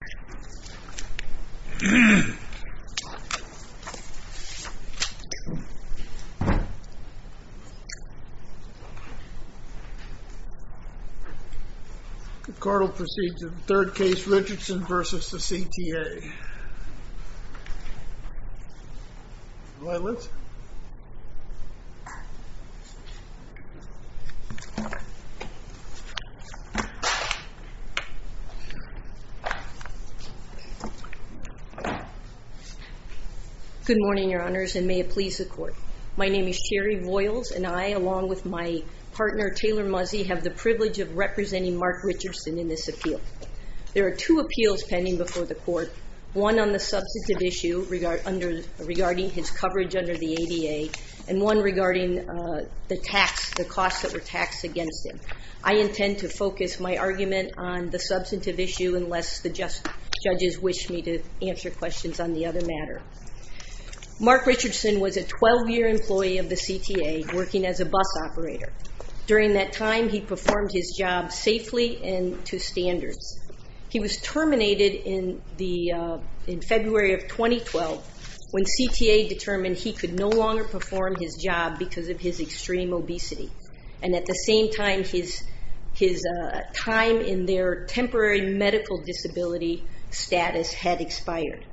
The court will proceed to the third case, Richardson v. CTA. Good morning, Your Honors, and may it please the Court. My name is Sherry Voyles, and I, along with my partner Taylor Muzzie, have the privilege of representing Mark Richardson in this appeal. There are two appeals pending before the Court, one on the substantive issue regarding his coverage under the ADA, and one regarding the costs that were taxed against him. I intend to focus my argument on the substantive issue unless the judges wish me to answer questions on the other matter. Mark Richardson was a 12-year employee of the CTA working as a bus operator. During that time, he performed his job safely and to standards. He was terminated in February of 2012 when CTA determined he could no longer perform his job because of his extreme obesity, and at the same time, his time in their temporary medical disability status had expired.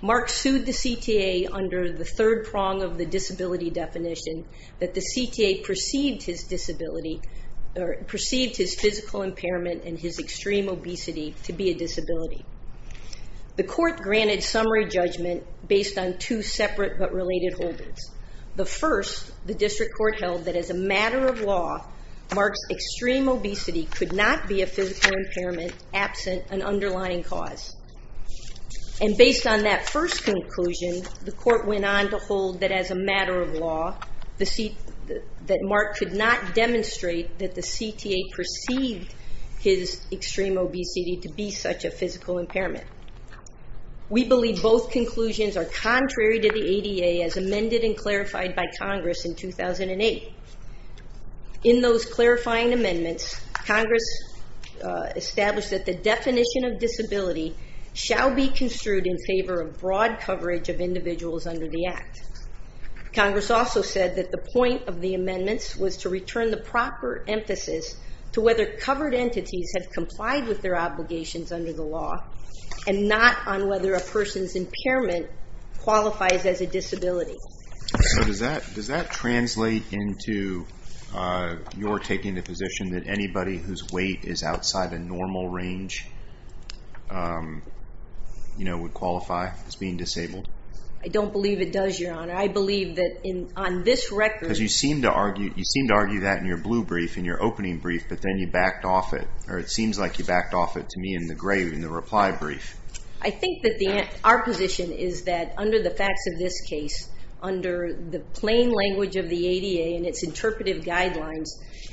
Mark sued the CTA under the third prong of the disability definition that the CTA perceived his physical impairment and his extreme obesity to be a disability. The Court granted summary judgment based on two separate but related holdings. The first, the District Court held that as a matter of law, Mark's extreme obesity could not be a physical impairment absent an underlying cause. And based on that first conclusion, the Court went on to hold that as a matter of law that Mark could not demonstrate that the CTA perceived his extreme obesity to be such a physical impairment. We believe both conclusions are contrary to the ADA as amended and clarified by Congress in 2008. In those clarifying amendments, Congress established that the definition of disability shall be construed in favor of broad coverage of individuals under the Act. Congress also said that the point of the amendments was to return the proper emphasis to whether covered entities have complied with their obligations under the law and not on whether a person's impairment qualifies as a disability. So does that translate into your taking the position that anybody whose weight is outside the normal range, you know, would qualify as being disabled? I don't believe it does, Your Honor. I believe that on this record... Because you seem to argue that in your blue brief, in your opening brief, but then you backed off it, or it seems like you backed off it to me in the gray, in the reply brief. I think that our position is that under the facts of this case, under the plain language of the ADA and its interpretive guidelines,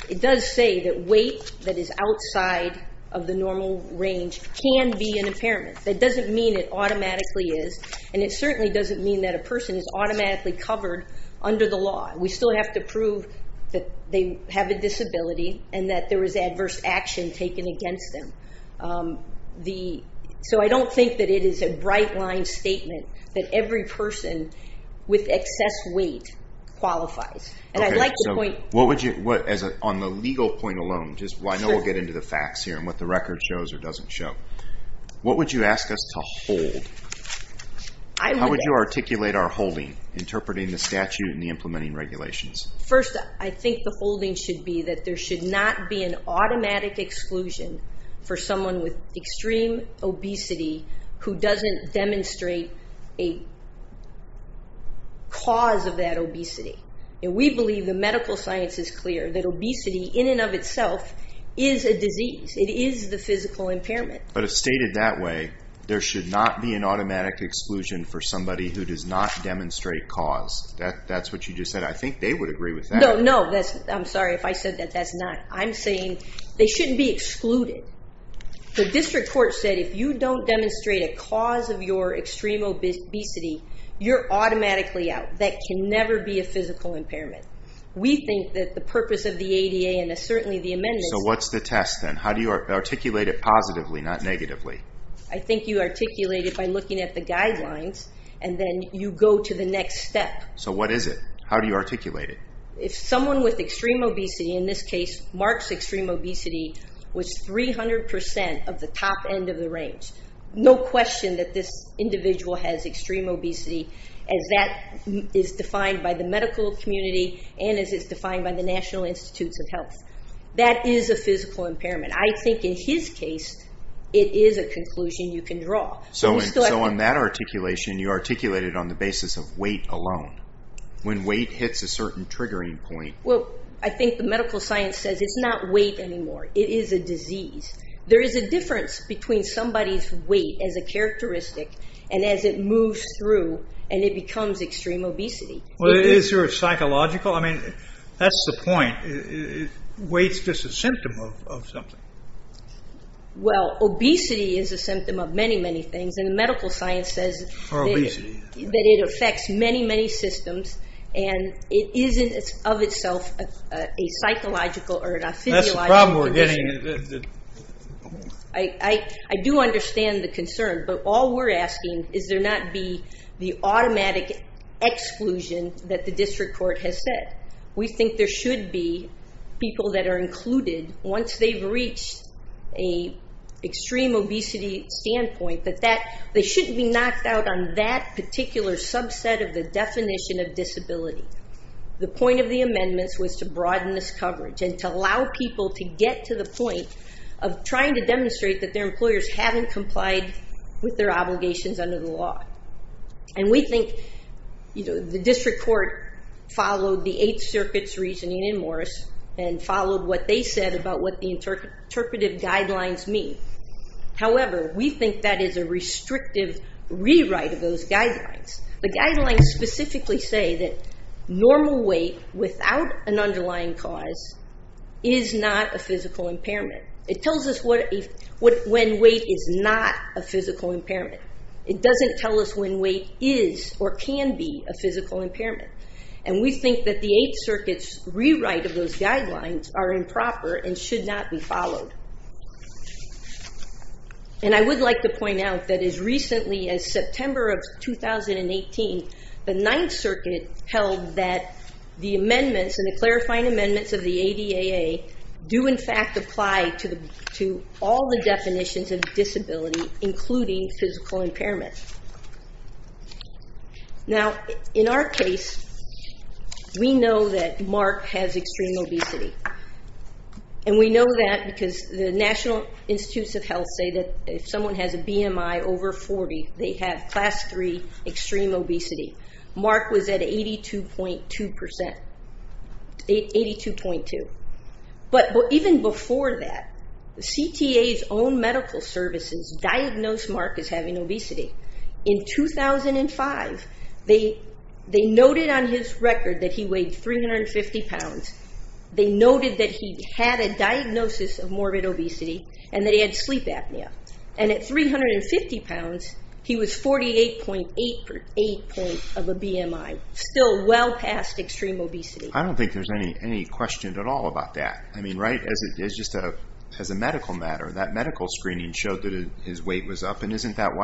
it does say that weight that is outside of the normal range can be an impairment. That doesn't mean it automatically is, and it certainly doesn't mean that a person is automatically covered under the law. We still have to prove that they have a disability and that there is adverse action taken against them. So I don't think it qualifies. On the legal point alone, I know we'll get into the facts here and what the record shows or doesn't show. What would you ask us to hold? How would you articulate our holding, interpreting the statute and the implementing regulations? First, I think the holding should be that there should not be an automatic exclusion for someone with extreme obesity who doesn't demonstrate a cause of that obesity. We believe the medical science is clear that obesity in and of itself is a disease. It is the physical impairment. But if stated that way, there should not be an automatic exclusion for somebody who does not demonstrate cause. That's what you just said. I think they would agree with that. No, I'm sorry if I said that's not. I'm saying they shouldn't be excluded. The District Court said if you don't demonstrate a cause of your extreme obesity, you're automatically out. That can never be a physical impairment. We think that the purpose of the ADA and certainly the amendments... So what's the test then? How do you articulate it positively, not negatively? I think you articulate it by looking at the guidelines and then you go to the next step. So what is it? How do you articulate it? If someone with extreme obesity, in this case Mark's extreme obesity, was 300% of the top end of the range, no question that this individual has extreme obesity as that is defined by the medical community and as it's defined by the National Institutes of Health. That is a physical impairment. I think in his case, it is a conclusion you can draw. So on that articulation, you articulated on the basis of weight alone. When weight hits a certain triggering point... Well, I think the medical science says it's not weight anymore. It is a disease. There is a difference between somebody's weight as a characteristic and as it moves through and it becomes extreme obesity. Is there a psychological? I mean, that's the point. Weight's just a symptom of something. Well, obesity is a symptom of many, many things and the medical science says that it affects many, many systems and it isn't of itself a psychological or an physiological condition. I do understand the concern, but all we're asking is there not be the automatic exclusion that the district court has said. We think there should be people that are included once they've reached an extreme obesity standpoint, that they shouldn't be knocked out on that particular subset of the definition of disability. The point of the amendments was to broaden this coverage and to allow people to get to the point of trying to demonstrate that their employers haven't complied with their obligations under the law. We think the district court followed the Eighth Circuit's reasoning in Morris and followed what they said about what the interpretive guidelines mean. However, we think that is a restrictive rewrite of those guidelines. The guidelines specifically say that normal weight without an underlying cause is not a physical impairment. It tells us when weight is not a physical impairment. It doesn't tell us when weight is or can be a physical impairment. We think that the Eighth Circuit's rewrite of those guidelines are improper and should not be followed. I would like to point out that as recently as September of 2018, the Ninth Circuit held that the amendments and the clarifying amendments of the ADAA do in fact apply to all the definitions of disability, including physical impairment. In our case, we know that Mark has extreme obesity. We know that because the National Institutes of Health say that if someone has a BMI over 40, they have class 3 extreme obesity. Mark was at 82.2%. Even before that, CTA's own medical services diagnosed Mark as having extreme obesity. In 2005, they noted on his record that he weighed 350 pounds. They noted that he had a diagnosis of morbid obesity and that he had sleep apnea. At 350 pounds, he was 48.8 of a BMI, still well past extreme obesity. I don't think there's any question at all about that. As a medical matter, that medical matter,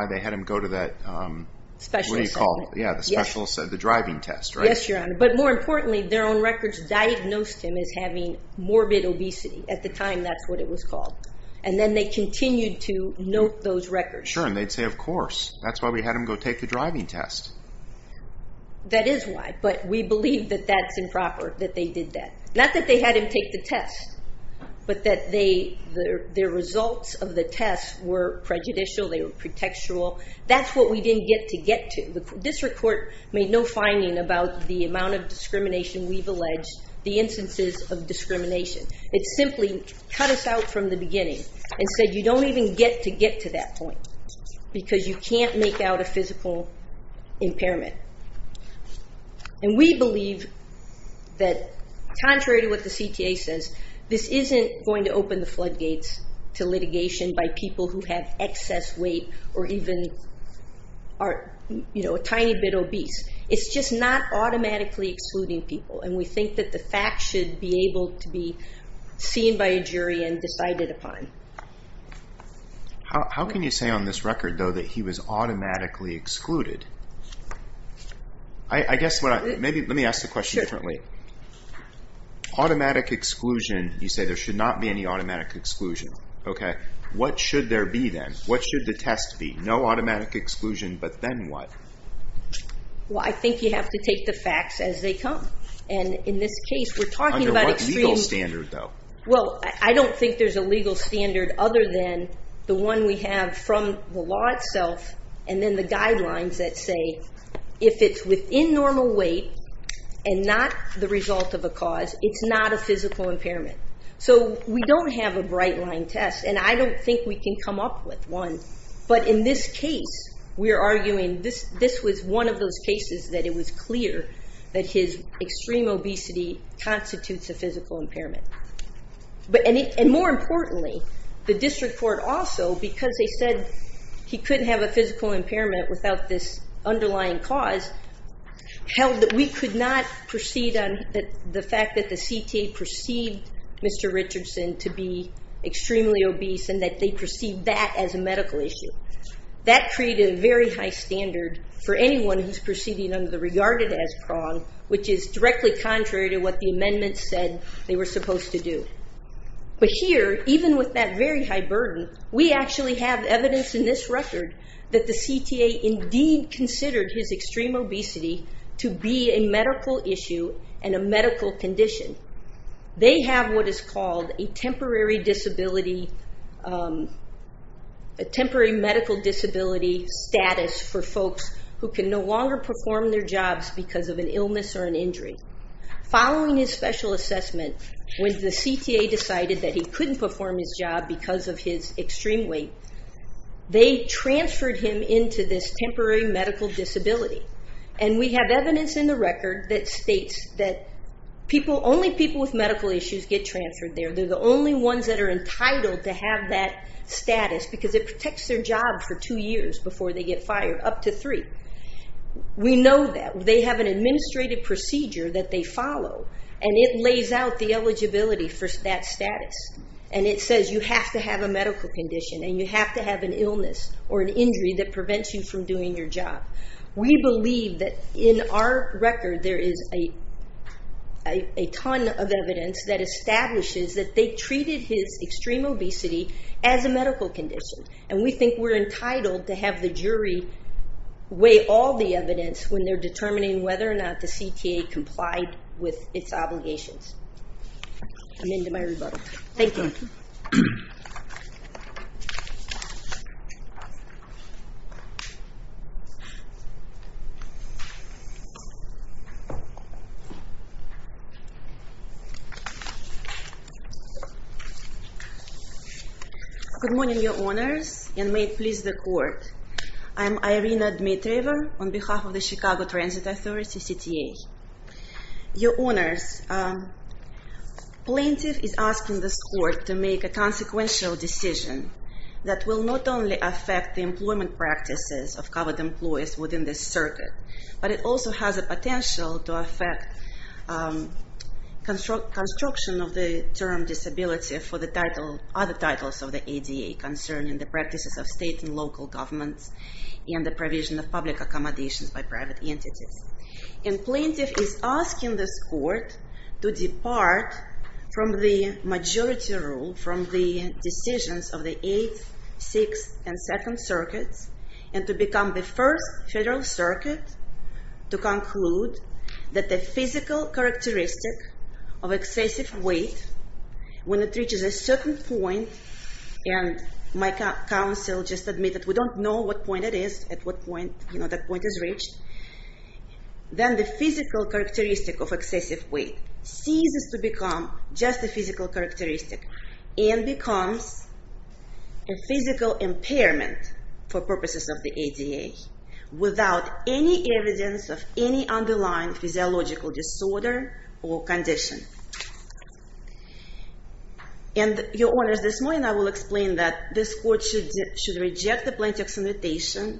they had him go to that specialist, the driving test, right? Yes, Your Honor. More importantly, their own records diagnosed him as having morbid obesity. At the time, that's what it was called. Then they continued to note those records. Sure. They'd say, of course, that's why we had him go take the driving test. That is why, but we believe that that's improper, that they did that. Not that they had him take the test, but that their results of the test were prejudicial, they were pretextual. That's what we didn't get to get to. The district court made no finding about the amount of discrimination we've alleged, the instances of discrimination. It simply cut us out from the beginning and said, you don't even get to get to that point because you can't make out a physical impairment. We believe that, contrary to what the CTA says, this isn't going to open the floodgates to litigation by people who have excess weight or even are a tiny bit obese. It's just not automatically excluding people. We think that the fact should be able to be seen by a jury and decided upon. How can you say on this record, though, that he was automatically excluded? Let me ask the question differently. Automatic exclusion, you say there should not be any automatic exclusion. What should there be, then? What should the test be? No automatic exclusion, but then what? I think you have to take the facts as they come. In this case, we're talking about extreme obesity. I don't think there's a legal standard other than the one we have from the law itself and then the guidelines that say if it's within normal weight and not the result of a cause, it's not a physical impairment. We don't have a bright line test. I don't think we can come up with one, but in this case, we're arguing this was one of those cases that it was clear that his extreme obesity constitutes a physical impairment. More importantly, the district court also, because they said he couldn't have a physical impairment without this underlying cause, held that we could not proceed on the fact that the CTA perceived Mr. Richardson to be extremely obese and that they perceived that as a medical issue. That created a very high standard for anyone who's proceeding under the regarded as prong, which is directly contrary to what the amendments said they were supposed to do. Here, even with that very high burden, we actually have evidence in this record that the CTA indeed considered his extreme obesity to be a medical issue and a medical condition. They have what is called a temporary medical disability status for folks who can no longer perform their jobs because of an illness or an injury. Following his special assessment, when the CTA decided that he couldn't perform his job because of his extreme weight, they transferred him into this temporary medical disability. We have evidence in the record that states that only people with medical issues get transferred there. They're the only ones that are entitled to have that status because it protects their job for two years before they get fired, up to three. We know that. They have an administrative procedure that they follow and it lays out the eligibility for that status. It says you have to have a medical condition and you have to have an illness or an injury that prevents you from doing your job. We believe that in our record there is a ton of evidence that establishes that they treated his extreme obesity as a medical condition. We think we're entitled to have the jury weigh all the evidence when they're determining whether or not the CTA complied with its obligations. Good morning, your honors, and may it please the court. I'm Irina Dmitrieva on behalf of the Chicago Transit Authority, CTA. Your honors, plaintiff is asking this court to make a consequential decision that will not only affect the employment practices of covered employees within this circuit, but it also has a potential to affect construction of the term disability for the other titles of the ADA concerning the practices of state and local governments and the provision of public accommodations by private entities. And plaintiff is asking this court to depart from the majority rule from the decisions of the 8th, 6th, and 2nd circuits and to become the first federal circuit to conclude that the physical characteristic of excessive weight when it reaches a certain point, and my counsel just admitted we don't know what point it is, at what point that point is reached, then the physical characteristic of excessive weight ceases to become just a physical characteristic and becomes a physical impairment for purposes of the ADA without any evidence of any underlying physiological disorder or condition. And, your honors, this morning I will explain that this court should reject the plaintiff's invitation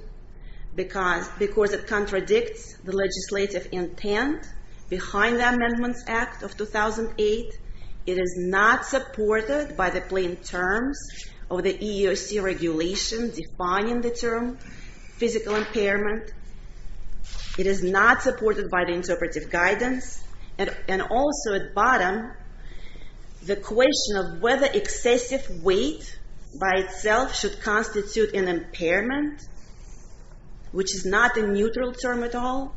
because it contradicts the legislative intent behind the Amendments Act of 2008. It is not supported by the plain terms of the EEOC regulation defining the term physical impairment. It is not supported by the interpretive guidance. And also at bottom, the plaintiff the question of whether excessive weight by itself should constitute an impairment, which is not a neutral term at all.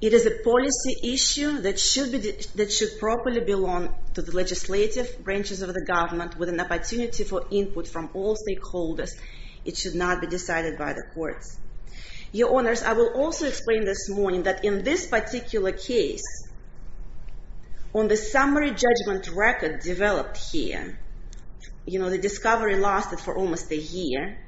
It is a policy issue that should properly belong to the legislative branches of the government with an opportunity for input from all stakeholders. It should not be decided by the courts. Your honors, I will also explain this morning that in this judgment record developed here, the discovery lasted for almost a year.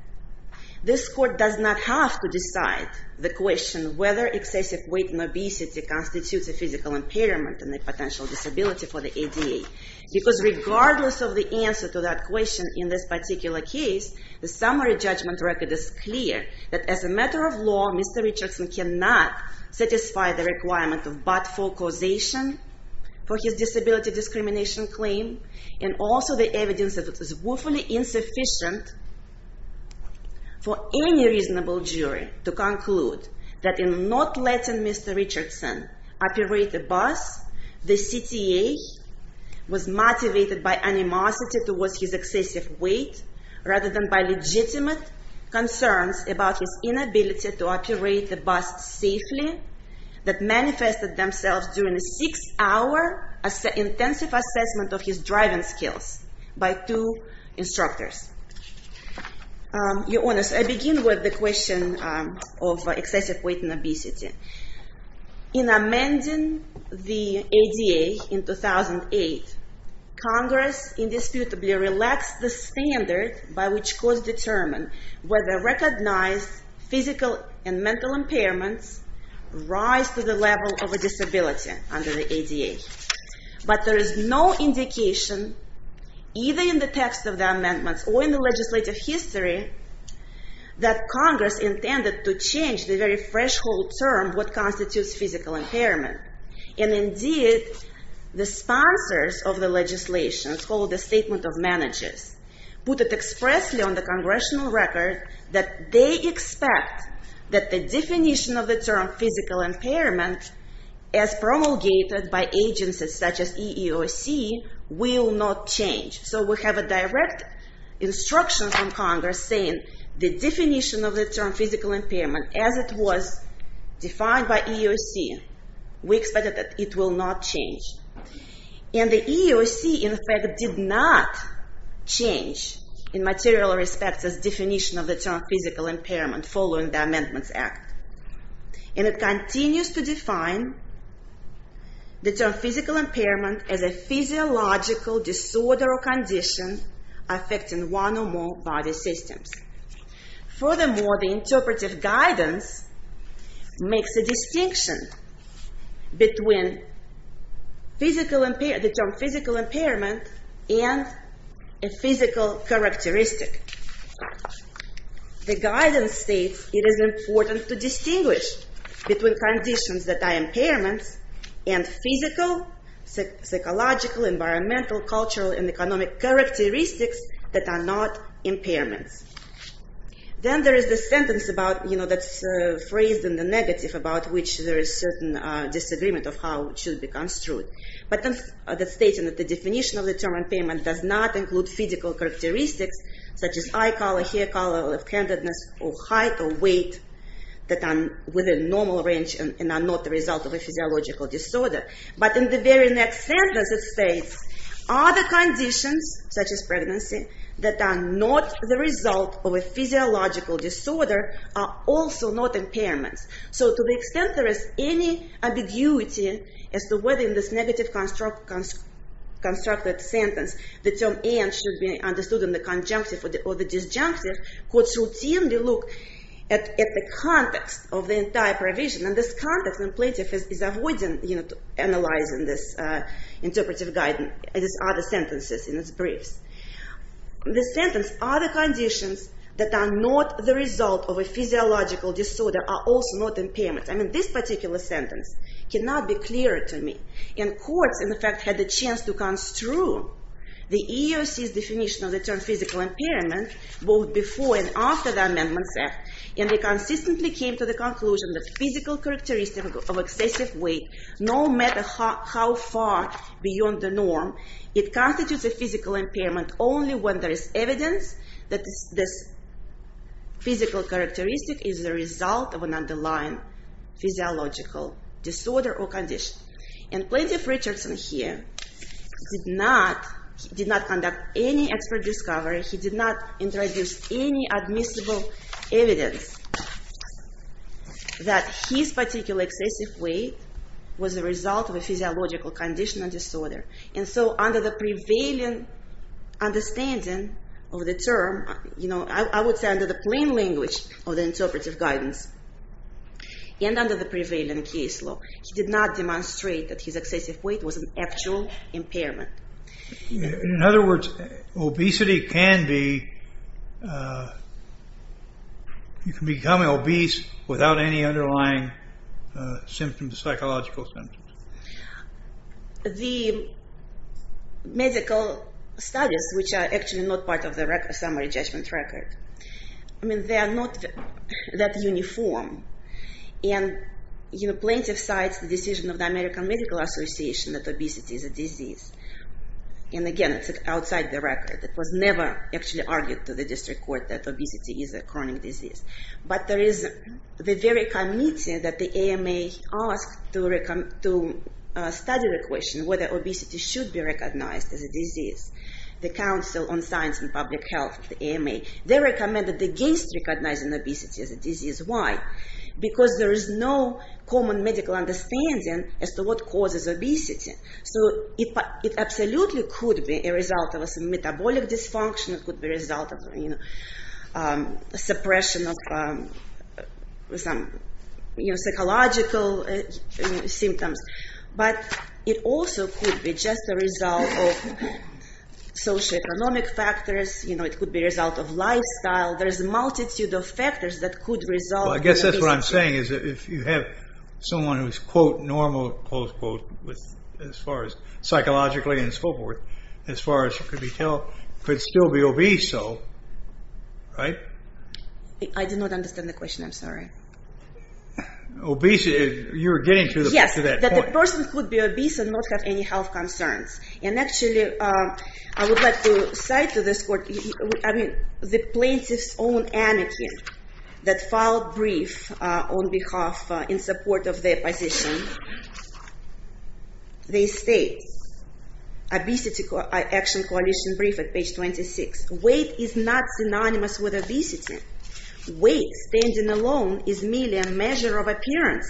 This court does not have to decide the question whether excessive weight and obesity constitutes a physical impairment and a potential disability for the ADA. Because regardless of the answer to that question in this particular case, the summary judgment record is clear that as a matter of law, Mr. Richardson cannot satisfy the requirement of but-for causation for his disability discrimination claim and also the evidence that it is woefully insufficient for any reasonable jury to conclude that in not letting Mr. Richardson operate the bus, the CTA was motivated by animosity towards his excessive weight rather than by legitimate concerns about his inability to operate the bus safely that manifested themselves during a six-hour intensive assessment of his driving skills by two instructors. Your honors, I begin with the question of excessive weight and obesity. In amending the ADA in 2008, Congress indisputably relaxed the standard by which courts determine whether recognized physical and mental impairments rise to the level of a disability under the ADA. But there is no indication, either in the text of the amendments or in the legislative history, that Congress intended to change the very threshold term what constitutes physical impairment. And indeed, the sponsors of the legislation, it's called the Statement of Managers, put it expressly on the congressional record that they expect that the definition of the term physical impairment as promulgated by agencies such as EEOC will not change. So we have a direct instruction from Congress saying the definition of the term physical impairment as it was defined by EEOC, we expect that it will not change. And the EEOC, in fact, will not change in material respects as definition of the term physical impairment following the amendments act. And it continues to define the term physical impairment as a physiological disorder or condition affecting one or more body systems. Furthermore, the interpretive guidance makes a distinction between the term physical impairment and the physical characteristic. The guidance states it is important to distinguish between conditions that are impairments and physical, psychological, environmental, cultural, and economic characteristics that are not impairments. Then there is the sentence about, you know, that's phrased in the negative about which there is certain disagreement of how it should be construed. But it states that the definition of the term impairment does not include physical characteristics such as eye color, hair color, left-handedness, or height or weight that are within normal range and are not the result of a physiological disorder. But in the very next sentence it states other conditions such as pregnancy that are not the result of a physiological disorder are also not impairments. So to the extent there is any ambiguity as to whether in this negative constructed sentence the term and should be understood in the conjunctive or the disjunctive, courts routinely look at the context of the entire provision. And this context in Plaintiff is avoiding analyzing this interpretive guidance, these other sentences in its briefs. The sentence, other conditions that are not the result of a physiological disorder are also not impairments. I mean, this particular sentence cannot be clearer to me. And courts, in fact, had the chance to construe the EEOC's definition of the term physical impairment both before and after the Amendment Act. And they consistently came to the conclusion that physical characteristics of excessive weight, no matter how far beyond the norm, it constitutes a physical impairment only when there is evidence that this physical characteristic is the result of an underlying physiological disorder or condition. And Plaintiff-Richardson here did not conduct any expert discovery. He did not introduce any admissible evidence that his particular excessive weight was the result of a physiological condition or disorder. And so under the prevailing understanding of the term, I would say under the plain language of the interpretive guidance, and under the prevailing case law, he did not demonstrate that his excessive weight was an actual impairment. In other words, obesity can be, you can become obese without any underlying symptoms, psychological symptoms. The medical studies, which are actually not part of the summary judgment record, I mean, they are not that uniform. And Plaintiff cites the decision of the American Medical Association that obesity is a disease. And again, it's outside the record. It was never actually argued to the district court that obesity is a chronic disease. But there is the very committee that the AMA asked to study the question whether obesity should be recognized as a disease. The Council on Science and Public Health, the AMA, they recommended against recognizing obesity as a disease. Why? Because there is no common medical understanding as to what causes obesity. So it absolutely could be a result of a metabolic dysfunction. It could be psychological symptoms. But it also could be just a result of socioeconomic factors. It could be a result of lifestyle. There is a multitude of factors that could result in obesity. I guess that's what I'm saying. If you have someone who is quote, normal, close quote, as far as psychologically and so forth, as far as could be told, could still be obese. I do not understand the question. I'm sorry. Obesity, you're getting to that point. Yes, that the person could be obese and not have any health concerns. And actually, I would like to cite to this court the Plaintiff's own amicum that filed brief on behalf in support of the opposition. They state, obesity action coalition brief at page 26, weight of the weight is not synonymous with obesity. Weight standing alone is merely a measure of appearance.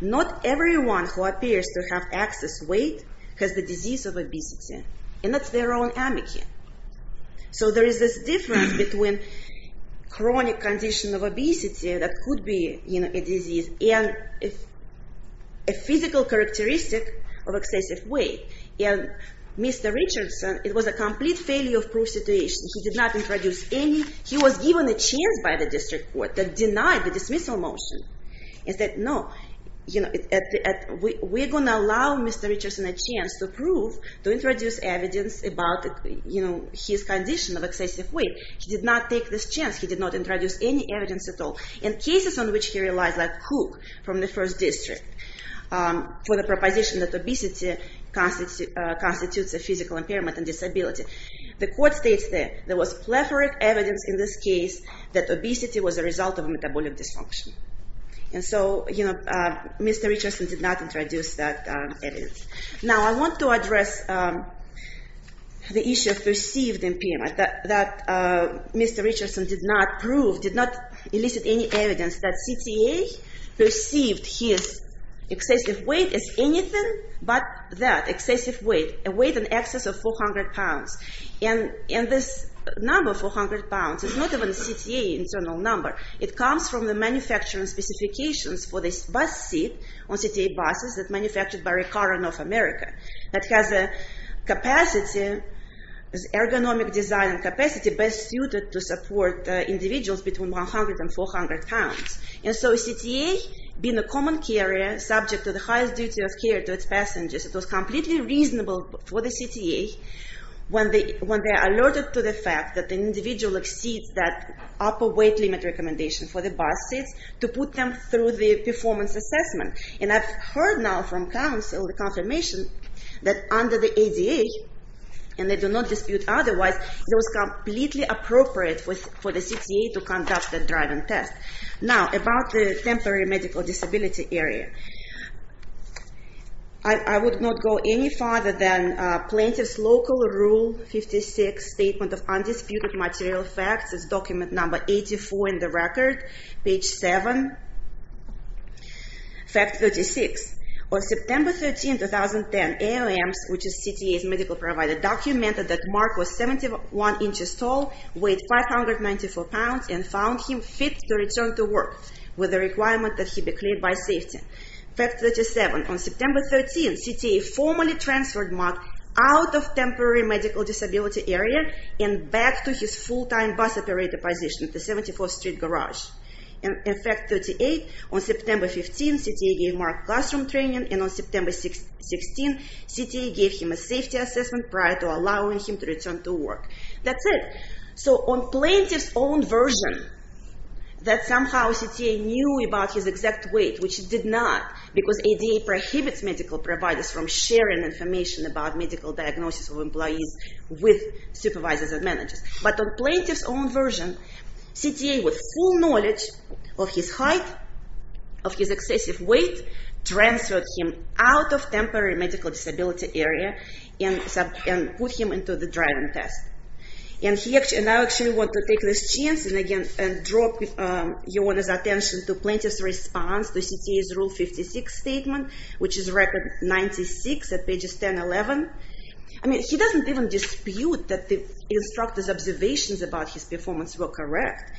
Not everyone who appears to have excess weight has the disease of obesity. And that's their own amicum. So there is this difference between chronic condition of obesity that could be a disease and a physical characteristic of excessive weight. And Mr. Richardson, it was a complete failure of proof situation. He did not introduce any. He was given a chance by the district court that denied the dismissal motion. And said, no, we're going to allow Mr. Richardson a chance to prove, to introduce evidence about his condition of excessive weight. He did not take this chance. He did not introduce any evidence at all. In cases on which he relies, like Cook from the first district, for the proposition that obesity constitutes a physical impairment and disability. The court states that there was plethora of evidence in this case that obesity was a result of metabolic dysfunction. And so, you know, Mr. Richardson did not introduce that evidence. Now I want to address the issue of perceived impairment. That Mr. Richardson did not prove, did not elicit any evidence that CTA perceived his excessive weight as anything but that. Excessive weight. A weight in excess of 400 pounds. And this number, 400 pounds, is not even a CTA internal number. It comes from the manufacturing specifications for this bus seat on CTA buses that manufactured by Recaro North America. That has a capacity, ergonomic design capacity best suited to support individuals between 100 and 400 pounds. And so CTA, being a common carrier, subject to the highest duty of care to its passengers, it was completely reasonable for the CTA, when they are alerted to the fact that the individual exceeds that upper weight limit recommendation for the bus seats, to put them through the performance assessment. And I've heard now from counsel the confirmation that under the ADA, and they do not dispute otherwise, it was completely appropriate for the CTA to conduct that driving test. Now, about the temporary medical disability area. I would not go any farther than Plaintiff's Local Rule 56, Statement of Undisputed Material Facts. It's document number 84 in the record, page 7, fact 36. On September 13, 2010, AOM which is CTA's medical provider, documented that Mark was 71 inches tall, weighed 594 pounds, and found him fit to return to work with the requirement that he be cleared by safety. Fact 37, on September 13, CTA formally transferred Mark out of temporary medical disability area and back to his full-time bus operator position at the 74th Street Garage. And in fact, 38, on September 15, CTA gave Mark classroom training, and on September 16, CTA gave him a safety assessment prior to allowing him to return to work. That's it. So on Plaintiff's own version, that somehow CTA knew about his exact weight, which it did not, because ADA prohibits medical providers from sharing information about medical diagnosis of employees with supervisors and managers. But on Plaintiff's own version, CTA with full knowledge of his height, of his excessive weight, transferred him out of temporary medical disability area and put him into the driving test. And I actually want to take this chance and again, and draw your attention to Plaintiff's response to CTA's Rule 56 Statement, which is Record 96 at pages 10-11. I mean, he doesn't even dispute that the instructor's observations about his performance were correct.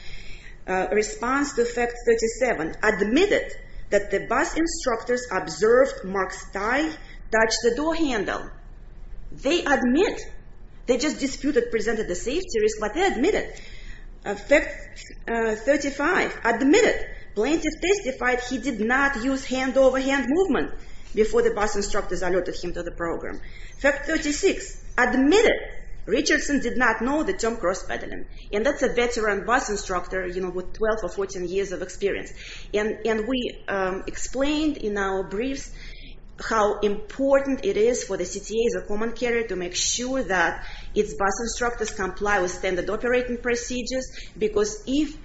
Response to Fact 37, admitted that the bus instructor observed Mark's tie touch the door handle. They admit. They just disputed, presented the safety risk, but they admit it. Fact 35, admitted Plaintiff testified he did not use hand-over-hand movement before the bus instructor alerted him to the program. Fact 36, admitted Richardson did not know the term cross-pedaling. And that's a veteran bus instructor, you know, with 12 or 14 years of experience. And we explained in our briefs how important it is for the CTA as a common carrier to make sure that its bus instructors comply with standard operating procedures, because if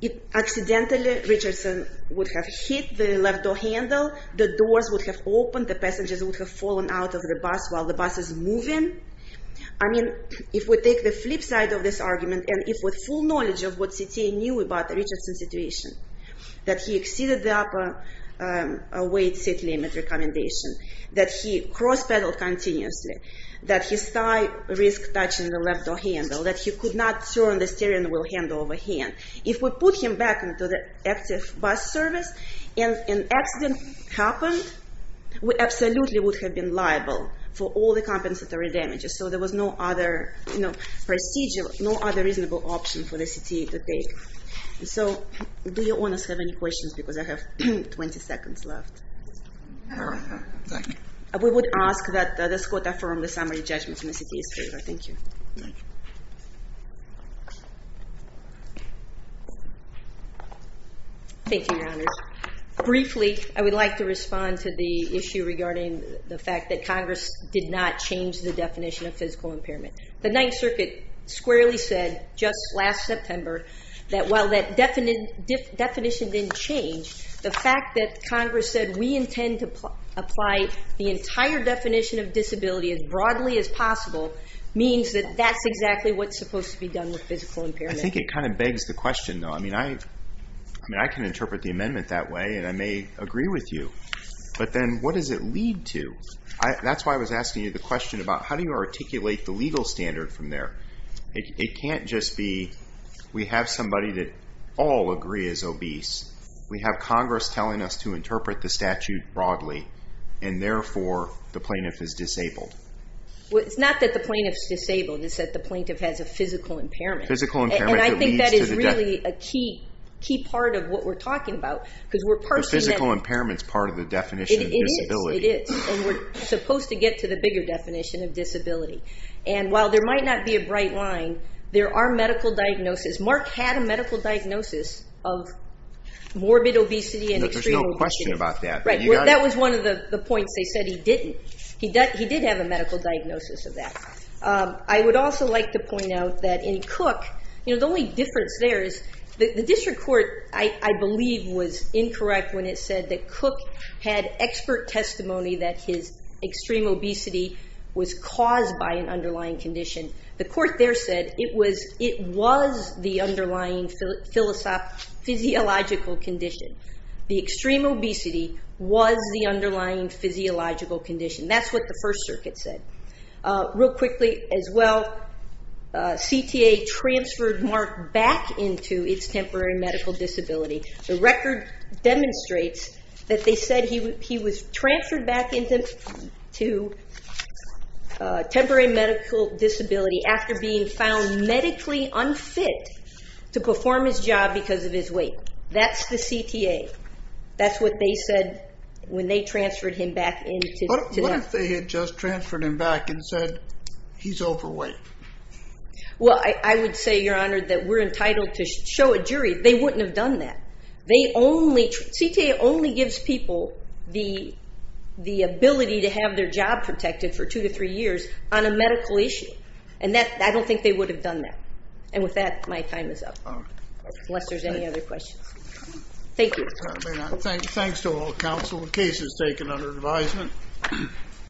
it accidentally, Richardson would have hit the left door handle, the doors would have opened, the passengers would have fallen out of the bus while the bus is moving. I mean, if we take the flip side of this argument, and if with full knowledge of what CTA knew about the Richardson situation, that he exceeded the upper weight seat limit recommendation, that he cross-pedaled continuously, that his tie risk touching the left door handle, that he could not turn the steering wheel hand-over-hand. If we put him back into the active bus service, and an accident happened, we absolutely would have been liable for all the compensatory damages. So there was no other, you know, procedure, no other reasonable option for the CTA to take. So, do you owners have any questions, because I have 20 seconds left? We would ask that this Court affirm the summary judgment in the CTA's favor. Thank you. Thank you, Your Honors. Briefly, I would like to respond to the issue regarding the fact that Congress did not change the definition of physical impairment. The Ninth Circuit squarely said, just last September, that while that definition didn't change, the fact that Congress said, we intend to apply the entire definition of disability as broadly as possible, means that that's exactly what's supposed to be done with physical impairment. I think it kind of begs the question, though. I mean, I can interpret the amendment that way, and I may agree with you. But then, what does it lead to? That's why I was asking you the question about how do you articulate the legal standard from there? It can't just be, we have somebody that all agree is obese. We have Congress telling us to interpret the statute broadly, and therefore, the plaintiff is disabled. Well, it's not that the plaintiff's disabled. It's that the plaintiff has a physical impairment. Physical impairment that leads to the definition. And I think that is really a key part of what we're talking about, because we're parsing that. The physical impairment's part of the definition of disability. It is, it is. And we're supposed to get to the bigger definition of disability. And while there might not be a bright line, there are medical diagnoses. Mark had a medical diagnosis of morbid obesity and extreme obesity. No, there's no question about that. Right. That was one of the points. They said he didn't. He did have a medical diagnosis of that. I would also like to point out that in Cook, you know, the only difference there is the district court, I believe, was incorrect when it said that Cook had expert testimony that his extreme obesity was caused by an underlying physiological condition. The extreme obesity was the underlying physiological condition. That's what the First Circuit said. Real quickly, as well, CTA transferred Mark back into its temporary medical disability. The record demonstrates that they said he was transferred back into temporary medical disability after being found medically unfit to perform his job because of his weight. That's the CTA. That's what they said when they transferred him back into that. What if they had just transferred him back and said, he's overweight? Well, I would say, Your Honor, that we're entitled to show a jury. They wouldn't have done that. They only, CTA only gives people the ability to have their job protected for two to three years on a medical issue. I don't think they would have done that. With that, my time is up, unless there's any other questions. Thank you. Thanks to all counsel. The case is taken under advisement.